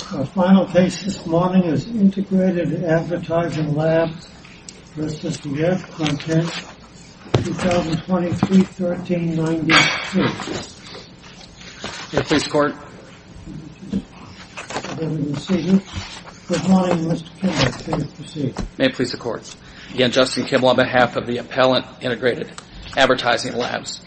Final case this morning is Integrated Advertising Labs v. Revcontent, 2023-1392. May it please the Court. Good morning, Mr. Kimball. Please proceed. May it please the Court. Again, Justin Kimball on behalf of the Appellant Integrated Advertising Labs.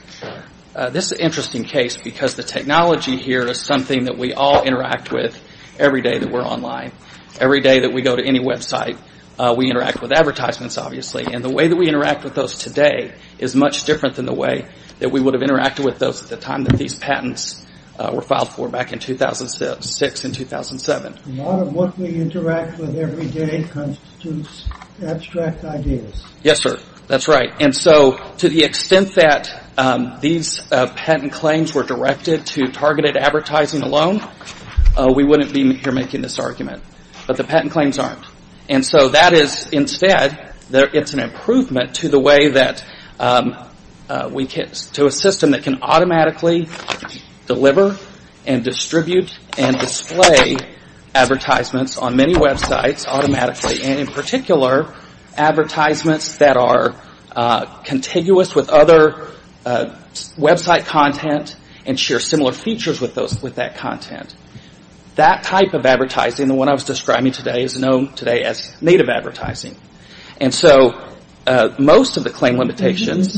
This is an interesting case because the technology here is something that we all interact with every day that we're online. Every day that we go to any website, we interact with advertisements, obviously, and the way that we interact with those today is much different than the way that we would have interacted with those at the time that these patents were filed for back in 2006 and 2007. A lot of what we interact with every day constitutes abstract ideas. Yes, sir. That's right. And so to the extent that these patent claims were directed to targeted advertising alone, we wouldn't be here making this argument. But the patent claims aren't. And so that is instead, it's an improvement to a system that can automatically deliver and distribute and display advertisements on many websites automatically, and in particular, advertisements that are contiguous with other website content and share similar features with that content. That type of advertising, the one I was describing today, is known today as native advertising. And so most of the claim limitations...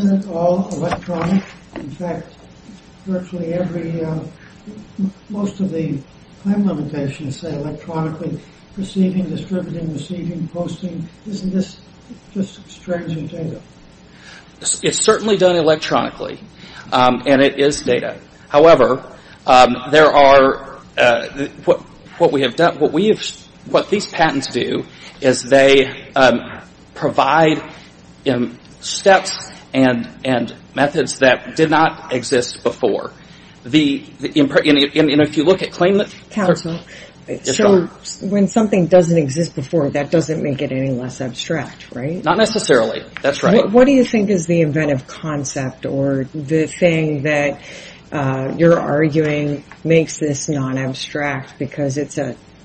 claim limitations say electronically receiving, distributing, receiving, posting. Isn't this just extrinsic data? It's certainly done electronically, and it is data. However, what these patents do is they provide steps and methods that did not exist before. And if you look at claim... Counsel, so when something doesn't exist before, that doesn't make it any less abstract, right? Not necessarily. That's right. What do you think is the inventive concept or the thing that you're arguing makes this non-abstract because it's,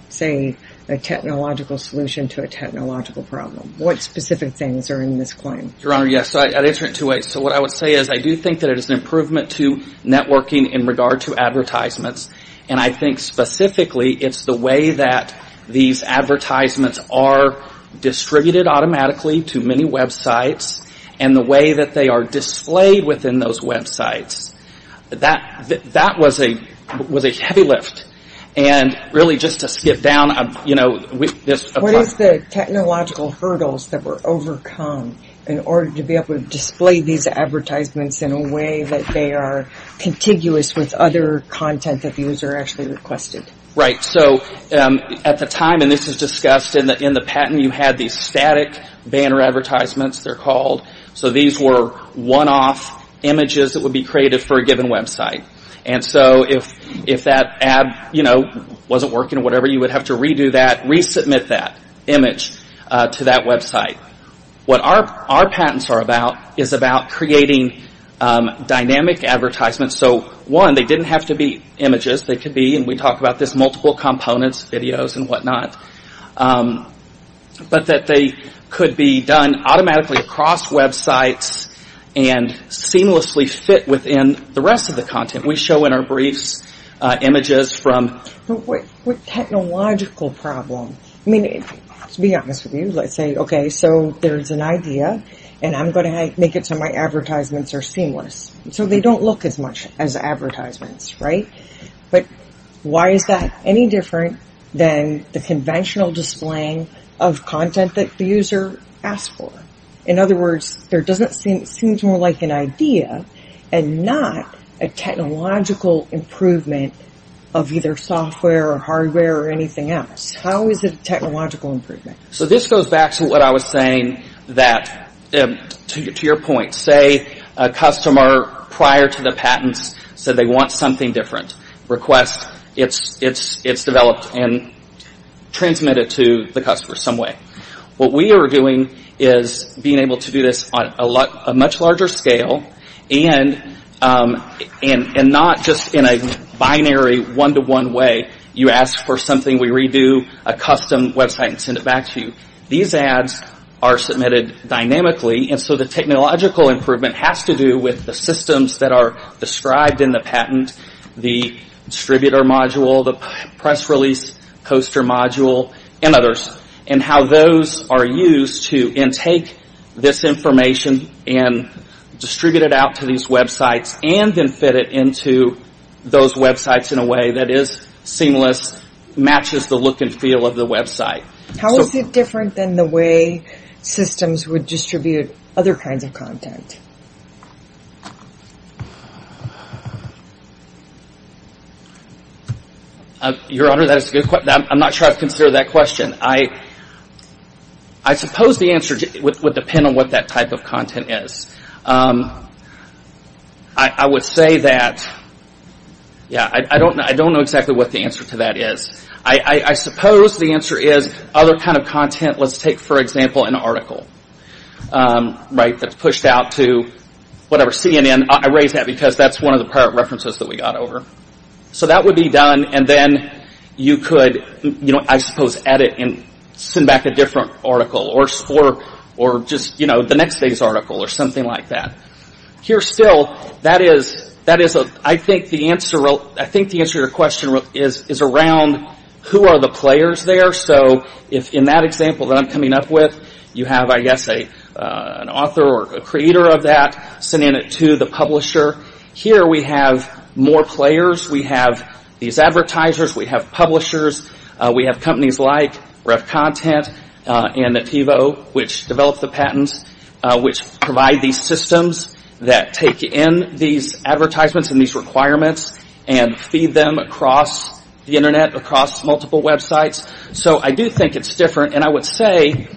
say, a technological solution to a technological problem? What specific things are in this claim? Your Honor, yes. So I'd answer it two ways. So what I would say is I do think that it is an improvement to networking in regard to advertisements, and I think specifically it's the way that these advertisements are distributed automatically to many websites and the way that they are displayed within those websites. That was a heavy lift. And really, just to skip down, you know, this... in a way that they are contiguous with other content that the user actually requested. Right. So at the time, and this is discussed in the patent, you had these static banner advertisements, they're called. So these were one-off images that would be created for a given website. And so if that ad, you know, wasn't working or whatever, you would have to redo that, resubmit that image to that website. What our patents are about is about creating dynamic advertisements. So, one, they didn't have to be images. They could be, and we talked about this, multiple components, videos and whatnot. But that they could be done automatically across websites and seamlessly fit within the rest of the content. We show in our briefs images from... But what technological problem? I mean, to be honest with you, let's say, okay, so there's an idea, and I'm going to make it so my advertisements are seamless. So they don't look as much as advertisements, right? But why is that any different than the conventional displaying of content that the user asked for? In other words, there doesn't seem... it seems more like an idea and not a technological improvement of either software or hardware or anything else. How is it a technological improvement? So this goes back to what I was saying that, to your point, say a customer prior to the patents said they want something different. Request, it's developed and transmitted to the customer some way. What we are doing is being able to do this on a much larger scale and not just in a binary one-to-one way. You ask for something, we redo a custom website and send it back to you. These ads are submitted dynamically, and so the technological improvement has to do with the systems that are described in the patent, the distributor module, the press release coaster module, and others, and how those are used to intake this information and distribute it out to these websites and then fit it into those websites in a way that is seamless, matches the look and feel of the website. How is it different than the way systems would distribute other kinds of content? Your Honor, I'm not sure I've considered that question. I suppose the answer would depend on what that type of content is. I would say that, I don't know exactly what the answer to that is. I suppose the answer is other kind of content, let's take for example an article, that's pushed out to CNN. I raise that because that's one of the pirate references that we got over. So that would be done, and then you could, I suppose, edit and send back a different article, or just the next day's article, or something like that. Here still, I think the answer to your question is around who are the players there. So in that example that I'm coming up with, you have, I guess, an author or creator of that, sending it to the publisher. Here we have more players. We have these advertisers. We have publishers. We have companies like RevContent and Nativo, which developed the patents, which provide these systems that take in these advertisements and these requirements and feed them across the Internet, across multiple websites. So I do think it's different, and I would say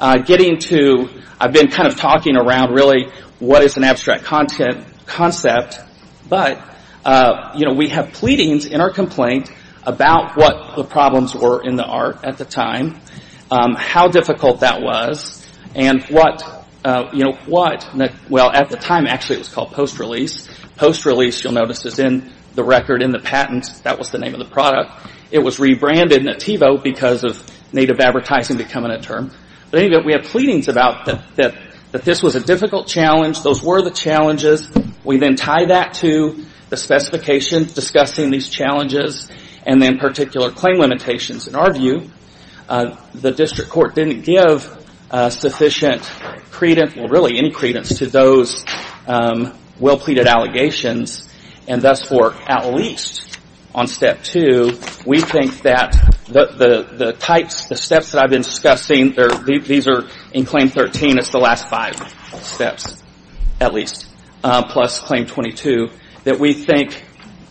getting to, I've been kind of talking around really what is an abstract concept, but we have pleadings in our complaint about what the problems were in the art at the time, how difficult that was, and what, well, at the time actually it was called post-release. Post-release, you'll notice, is in the record in the patent. That was the name of the product. It was rebranded Nativo because of native advertising becoming a term. But anyway, we have pleadings about that this was a difficult challenge. Those were the challenges. We then tie that to the specifications discussing these challenges and then particular claim limitations. In our view, the district court didn't give sufficient credence, well, really any credence to those well-pleaded allegations, and thus for at least on Step 2, we think that the types, the steps that I've been discussing, these are in Claim 13, it's the last five steps at least, plus Claim 22, that we think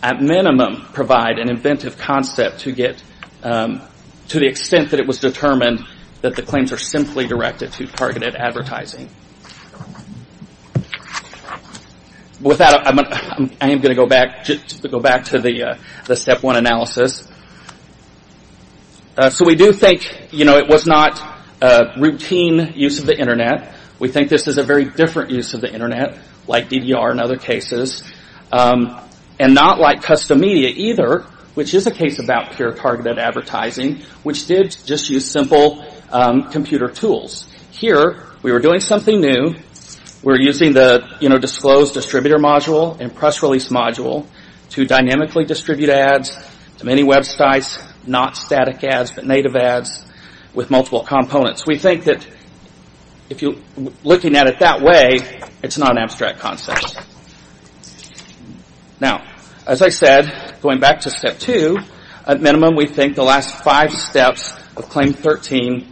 at minimum provide an inventive concept to get to the extent that it was determined that the claims are simply directed to targeted advertising. With that, I am going to go back to the Step 1 analysis. So we do think it was not routine use of the internet. We think this is a very different use of the internet, like DDR and other cases, and not like custom media either, which is a case about pure targeted advertising, which did just use simple computer tools. Here, we were doing something new. We were using the Disclosed Distributor Module and Press Release Module to dynamically distribute ads to many websites, not static ads, but native ads with multiple components. We think that looking at it that way, it's not an abstract concept. Now, as I said, going back to Step 2, at minimum, we think the last five steps of Claim 13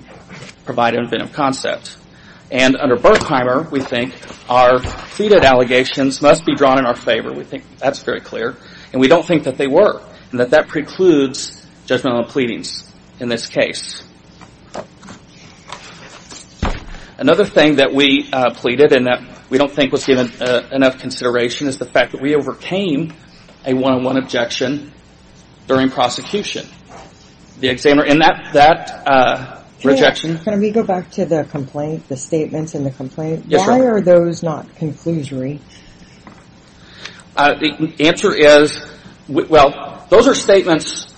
provide an inventive concept. And under Berkheimer, we think our pleaded allegations must be drawn in our favor. We think that's very clear, and we don't think that they were, and that that precludes judgmental pleadings in this case. Another thing that we pleaded and that we don't think was given enough consideration is the fact that we overcame a one-on-one objection during prosecution. The examiner in that rejection... Can we go back to the complaint, the statements in the complaint? Why are those not conclusory? The answer is, well, those are statements,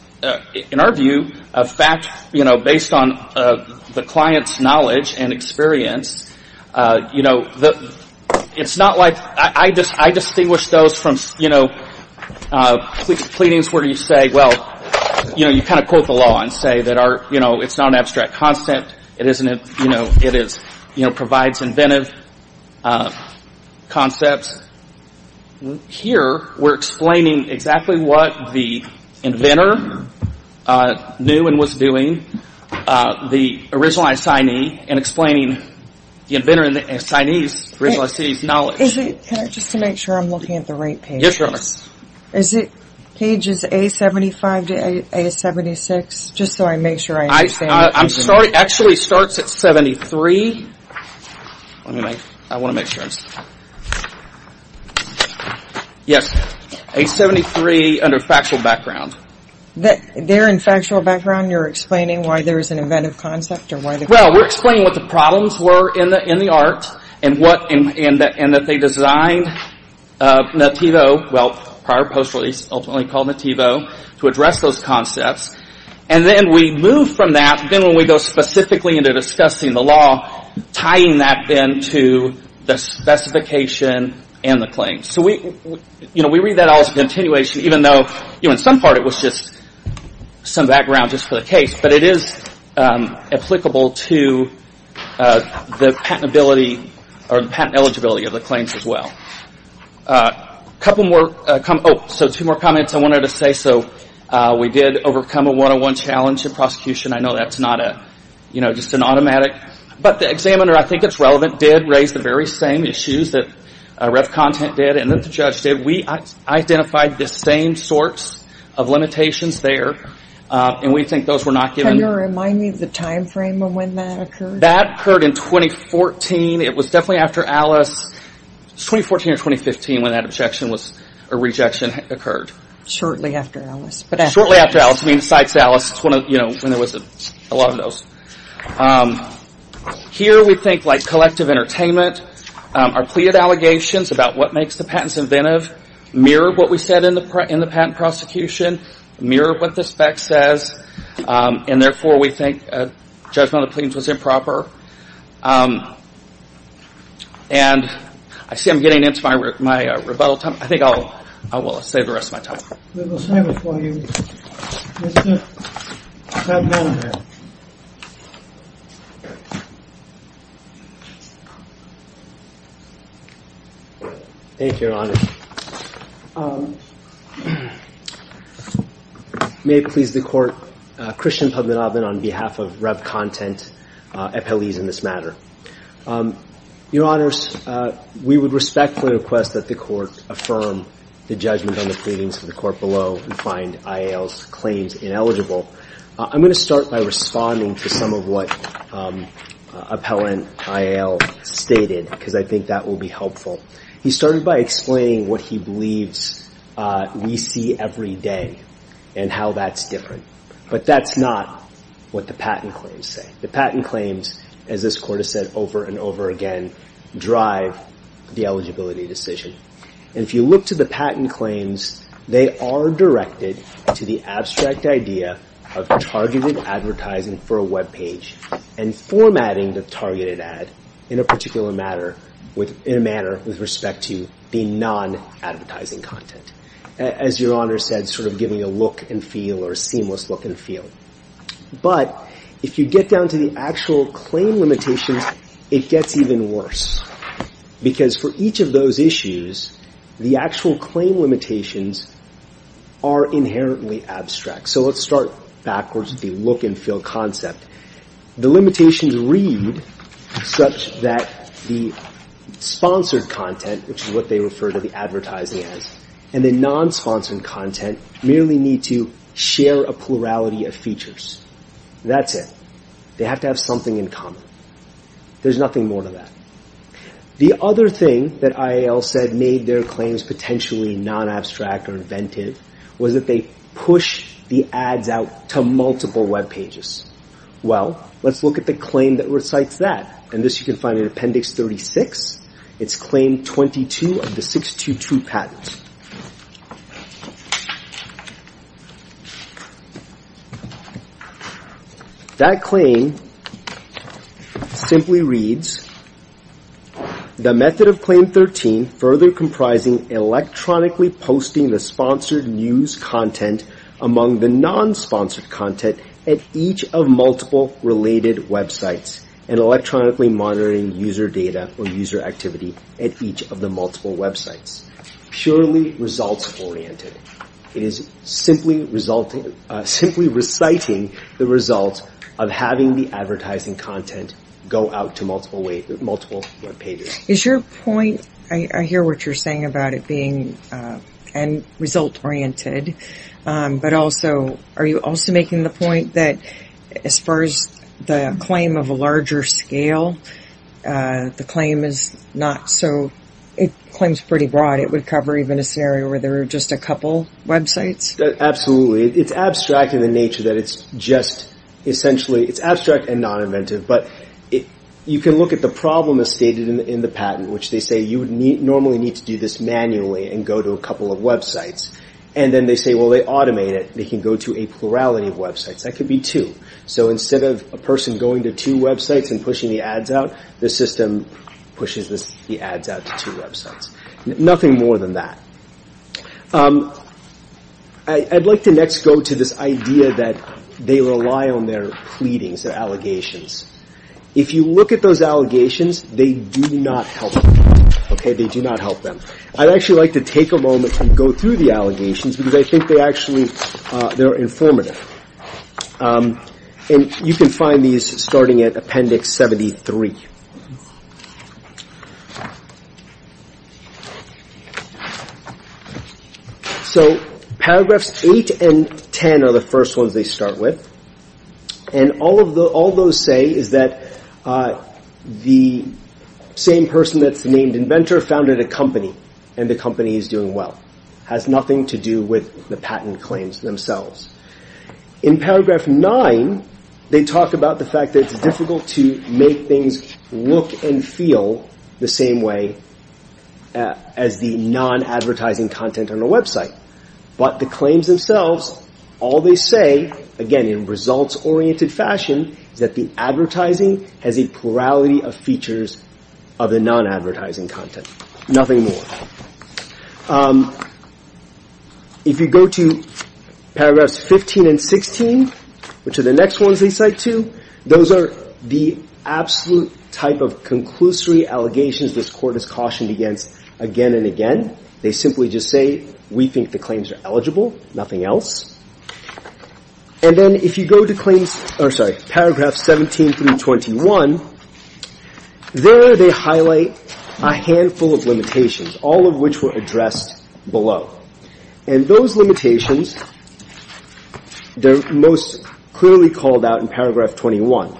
in our view, of fact, based on the client's knowledge and experience. It's not like... I distinguish those from pleadings where you say, well, you kind of quote the law and say that it's not an abstract concept. It provides inventive concepts. Here, we're explaining exactly what the inventor knew and was doing, the original assignee, and explaining the inventor and the assignee's knowledge. Just to make sure I'm looking at the right page. Yes, Your Honor. Is it pages A75 to A76, just so I make sure I understand? I'm sorry, it actually starts at 73. I want to make sure. Yes, A73 under factual background. There in factual background, you're explaining why there is an inventive concept? Well, we're explaining what the problems were in the art and that they designed Nativo, well, prior post release, ultimately called Nativo, to address those concepts. And then we move from that, then when we go specifically into discussing the law, tying that then to the specification and the claim. We read that all as a continuation, even though in some part it was just some background just for the case, but it is applicable to the patent eligibility of the claims as well. A couple more comments. Two more comments I wanted to say. We did overcome a one-on-one challenge in prosecution. I know that's not just an automatic, but the examiner, I think it's relevant, did raise the very same issues that Rev. Content did and that the judge did. We identified the same sorts of limitations there, and we think those were not given. Can you remind me of the time frame of when that occurred? That occurred in 2014. It was definitely after Alice, 2014 or 2015, when that objection or rejection occurred. Shortly after Alice. Shortly after Alice, besides Alice, when there was a lot of those. Here we think like collective entertainment, our pleaded allegations about what makes the patents inventive mirrored what we said in the patent prosecution, mirrored what the spec says, and therefore we think judgment on the claims was improper. I see I'm getting into my rebuttal time. I think I will save the rest of my time. We will save it for you. Mr. Padmanabhan. Thank you, Your Honor. May it please the Court, Christian Padmanabhan on behalf of Rev. Content, appellees in this matter. Your Honors, we would respectfully request that the Court affirm the judgment on the pleadings of the Court below and find IAL's claims ineligible. I'm going to start by responding to some of what Appellant IAL stated, because I think that will be helpful. He started by explaining what he believes we see every day and how that's different. But that's not what the patent claims say. The patent claims, as this Court has said over and over again, drive the eligibility decision. And if you look to the patent claims, they are directed to the abstract idea of targeted advertising for a web page and formatting the targeted ad in a particular manner with respect to the non-advertising content. As Your Honor said, sort of giving a look and feel or a seamless look and feel. But if you get down to the actual claim limitations, it gets even worse. Because for each of those issues, the actual claim limitations are inherently abstract. So let's start backwards with the look and feel concept. The limitations read such that the sponsored content, which is what they refer to the advertising as, and the non-sponsored content merely need to share a plurality of features. That's it. They have to have something in common. There's nothing more to that. The other thing that IAL said made their claims potentially non-abstract or inventive was that they push the ads out to multiple web pages. Well, let's look at the claim that recites that. And this you can find in Appendix 36. It's Claim 22 of the 622 Patent. That claim simply reads, The method of Claim 13 further comprising electronically posting the sponsored news content among the non-sponsored content at each of multiple related websites and electronically monitoring user data or user activity at each of the multiple websites. It is purely results-oriented. It is simply reciting the results of having the advertising content go out to multiple web pages. Is your point, I hear what you're saying about it being result-oriented, but also, are you also making the point that as far as the claim of a larger scale, the claim is not so, it claims pretty broad. It would cover even a scenario where there are just a couple websites? Absolutely. It's abstract in the nature that it's just essentially, it's abstract and non-inventive. But you can look at the problem as stated in the patent, which they say you would normally need to do this manually and go to a couple of websites. And then they say, well, they automate it. They can go to a plurality of websites. That could be two. So instead of a person going to two websites and pushing the ads out, the system pushes the ads out to two websites. Nothing more than that. I'd like to next go to this idea that they rely on their pleadings, their allegations. If you look at those allegations, they do not help them. They do not help them. I'd actually like to take a moment and go through the allegations, because I think they actually are informative. And you can find these starting at Appendix 73. So paragraphs 8 and 10 are the first ones they start with. And all those say is that the same person that's named inventor founded a company, and the company is doing well. It has nothing to do with the patent claims themselves. In paragraph 9, they talk about the fact that it's difficult to make things look and feel the same way as the non-advertising content on a website. But the claims themselves, all they say, again, in results-oriented fashion, is that the advertising has a plurality of features of the non-advertising content. Nothing more. If you go to paragraphs 15 and 16, which are the next ones they cite to, those are the absolute type of conclusory allegations this Court has cautioned against again and again. They simply just say, we think the claims are eligible, nothing else. And then if you go to paragraph 17 through 21, there they highlight a handful of limitations, all of which were addressed below. And those limitations, they're most clearly called out in paragraph 21.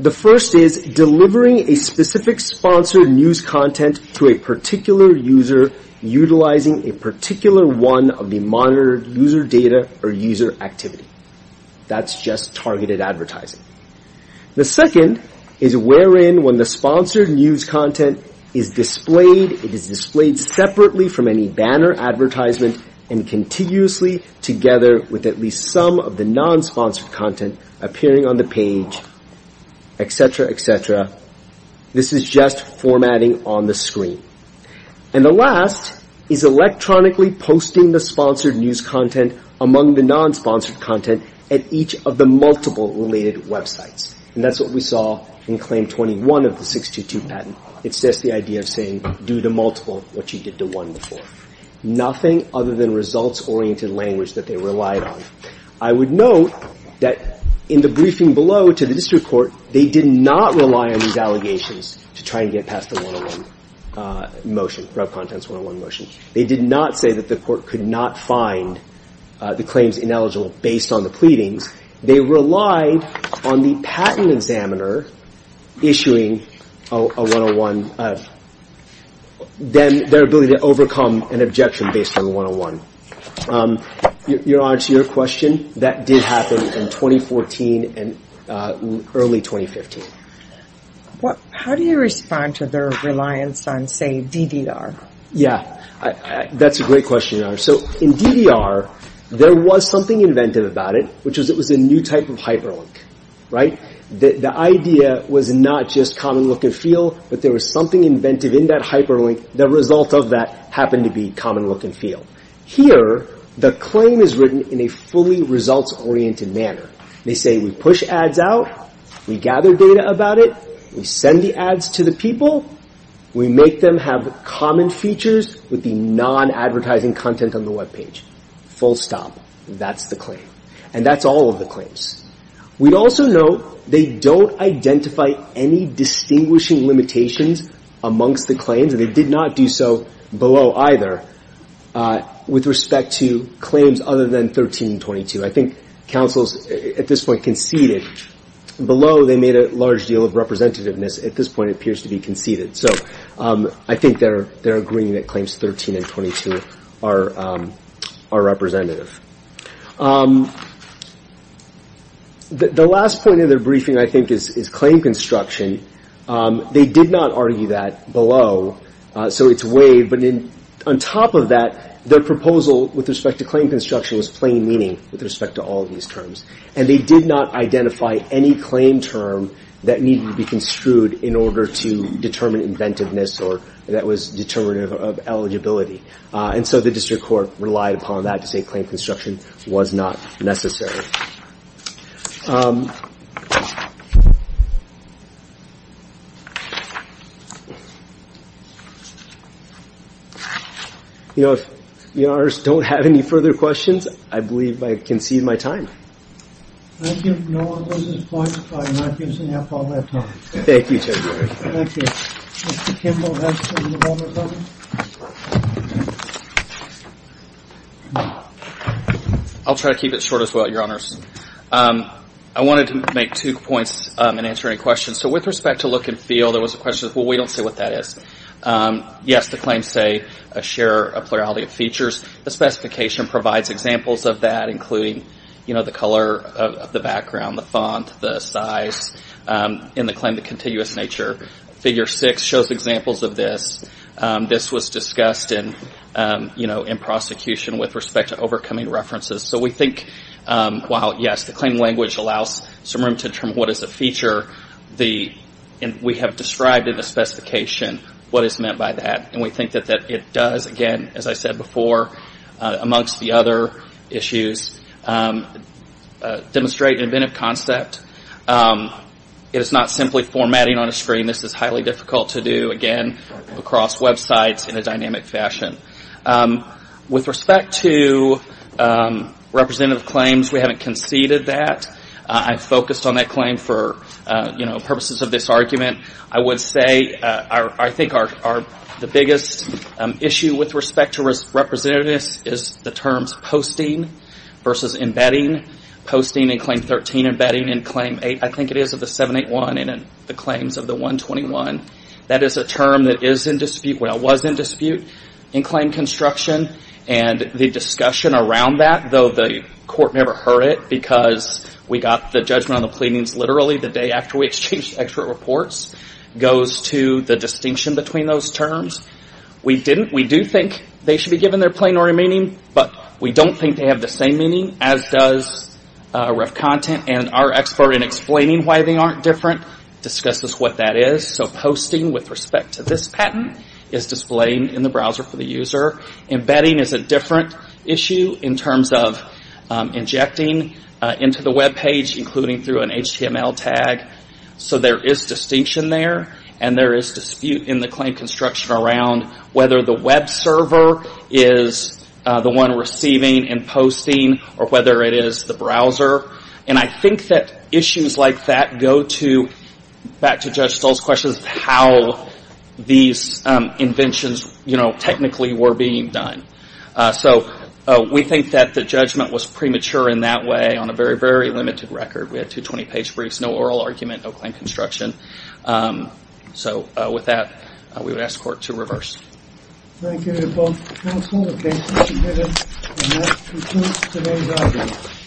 The first is delivering a specific sponsored news content to a particular user, utilizing a particular one of the monitored user data or user activity. That's just targeted advertising. The second is wherein when the sponsored news content is displayed, it is displayed separately from any banner advertisement, and contiguously together with at least some of the non-sponsored content appearing on the page, et cetera, et cetera. This is just formatting on the screen. And the last is electronically posting the sponsored news content among the non-sponsored content at each of the multiple related websites. And that's what we saw in Claim 21 of the 622 patent. It's just the idea of saying, due to multiple, what you did to one before. Nothing other than results-oriented language that they relied on. I would note that in the briefing below to the district court, they did not rely on these allegations to try and get past the 101 motion, rev contents 101 motion. They did not say that the court could not find the claims ineligible based on the pleadings. They relied on the patent examiner issuing a 101, their ability to overcome an objection based on the 101. Your Honor, to your question, that did happen in 2014 and early 2015. How do you respond to their reliance on, say, DDR? Yeah, that's a great question, Your Honor. So in DDR, there was something inventive about it, which was it was a new type of hyperlink, right? The idea was not just common look and feel, but there was something inventive in that hyperlink. The result of that happened to be common look and feel. Here, the claim is written in a fully results-oriented manner. They say we push ads out. We gather data about it. We send the ads to the people. We make them have common features with the non-advertising content on the Web page. Full stop. That's the claim. And that's all of the claims. We'd also note they don't identify any distinguishing limitations amongst the claims, and they did not do so below either with respect to claims other than 1322. I think counsels at this point conceded. Below, they made a large deal of representativeness. At this point, it appears to be conceded. So I think they're agreeing that claims 13 and 22 are representative. The last point in their briefing, I think, is claim construction. They did not argue that below, so it's waived. But on top of that, their proposal with respect to claim construction was plain meaning with respect to all of these terms, and they did not identify any claim term that needed to be construed in order to determine inventiveness or that was determinative of eligibility. And so the district court relied upon that to say claim construction was not necessary. You know, if Your Honors don't have any further questions, I believe I concede my time. Thank you. No one was disappointed by my finishing up all that time. Thank you, Judge. Thank you. Mr. Kimball, next on the roll, please. I'll try to keep it short as well, Your Honors. I wanted to make two points and answer any questions. So with respect to look and feel, there was a question of, well, we don't see what that is. Yes, the claims say a share, a plurality of features. The specification provides examples of that, including, you know, the color of the background, the font, the size in the claim, the continuous nature. Figure 6 shows examples of this. This was discussed in prosecution with respect to overcoming references. So we think while, yes, the claim language allows some room to determine what is a feature, we have described in the specification what is meant by that. And we think that it does, again, as I said before, amongst the other issues, demonstrate an inventive concept. It is not simply formatting on a screen. This is highly difficult to do, again, across websites in a dynamic fashion. With respect to representative claims, we haven't conceded that. I focused on that claim for, you know, purposes of this argument. I would say I think the biggest issue with respect to representativeness is the terms posting versus embedding. Posting in Claim 13, embedding in Claim 8. I think it is of the 781 and in the claims of the 121. That is a term that is in dispute, well, was in dispute in claim construction. And the discussion around that, though the court never heard it because we got the judgment on the pleadings literally the day after we exchanged expert reports, goes to the distinction between those terms. We didn't, we do think they should be given their plenary meaning, but we don't think they have the same meaning as does ref content. And our expert in explaining why they aren't different discusses what that is. So posting with respect to this patent is displaying in the browser for the user. Embedding is a different issue in terms of injecting into the webpage, including through an HTML tag. So there is distinction there. And there is dispute in the claim construction around whether the web server is the one receiving and posting or whether it is the browser. And I think that issues like that go to, back to Judge Stoll's questions, how these inventions, you know, technically were being done. So we think that the judgment was premature in that way on a very, very limited record. We had 220 page briefs, no oral argument, no claim construction. So with that, we would ask the court to reverse. Thank you to both counsel. The case is submitted. And that concludes today's argument.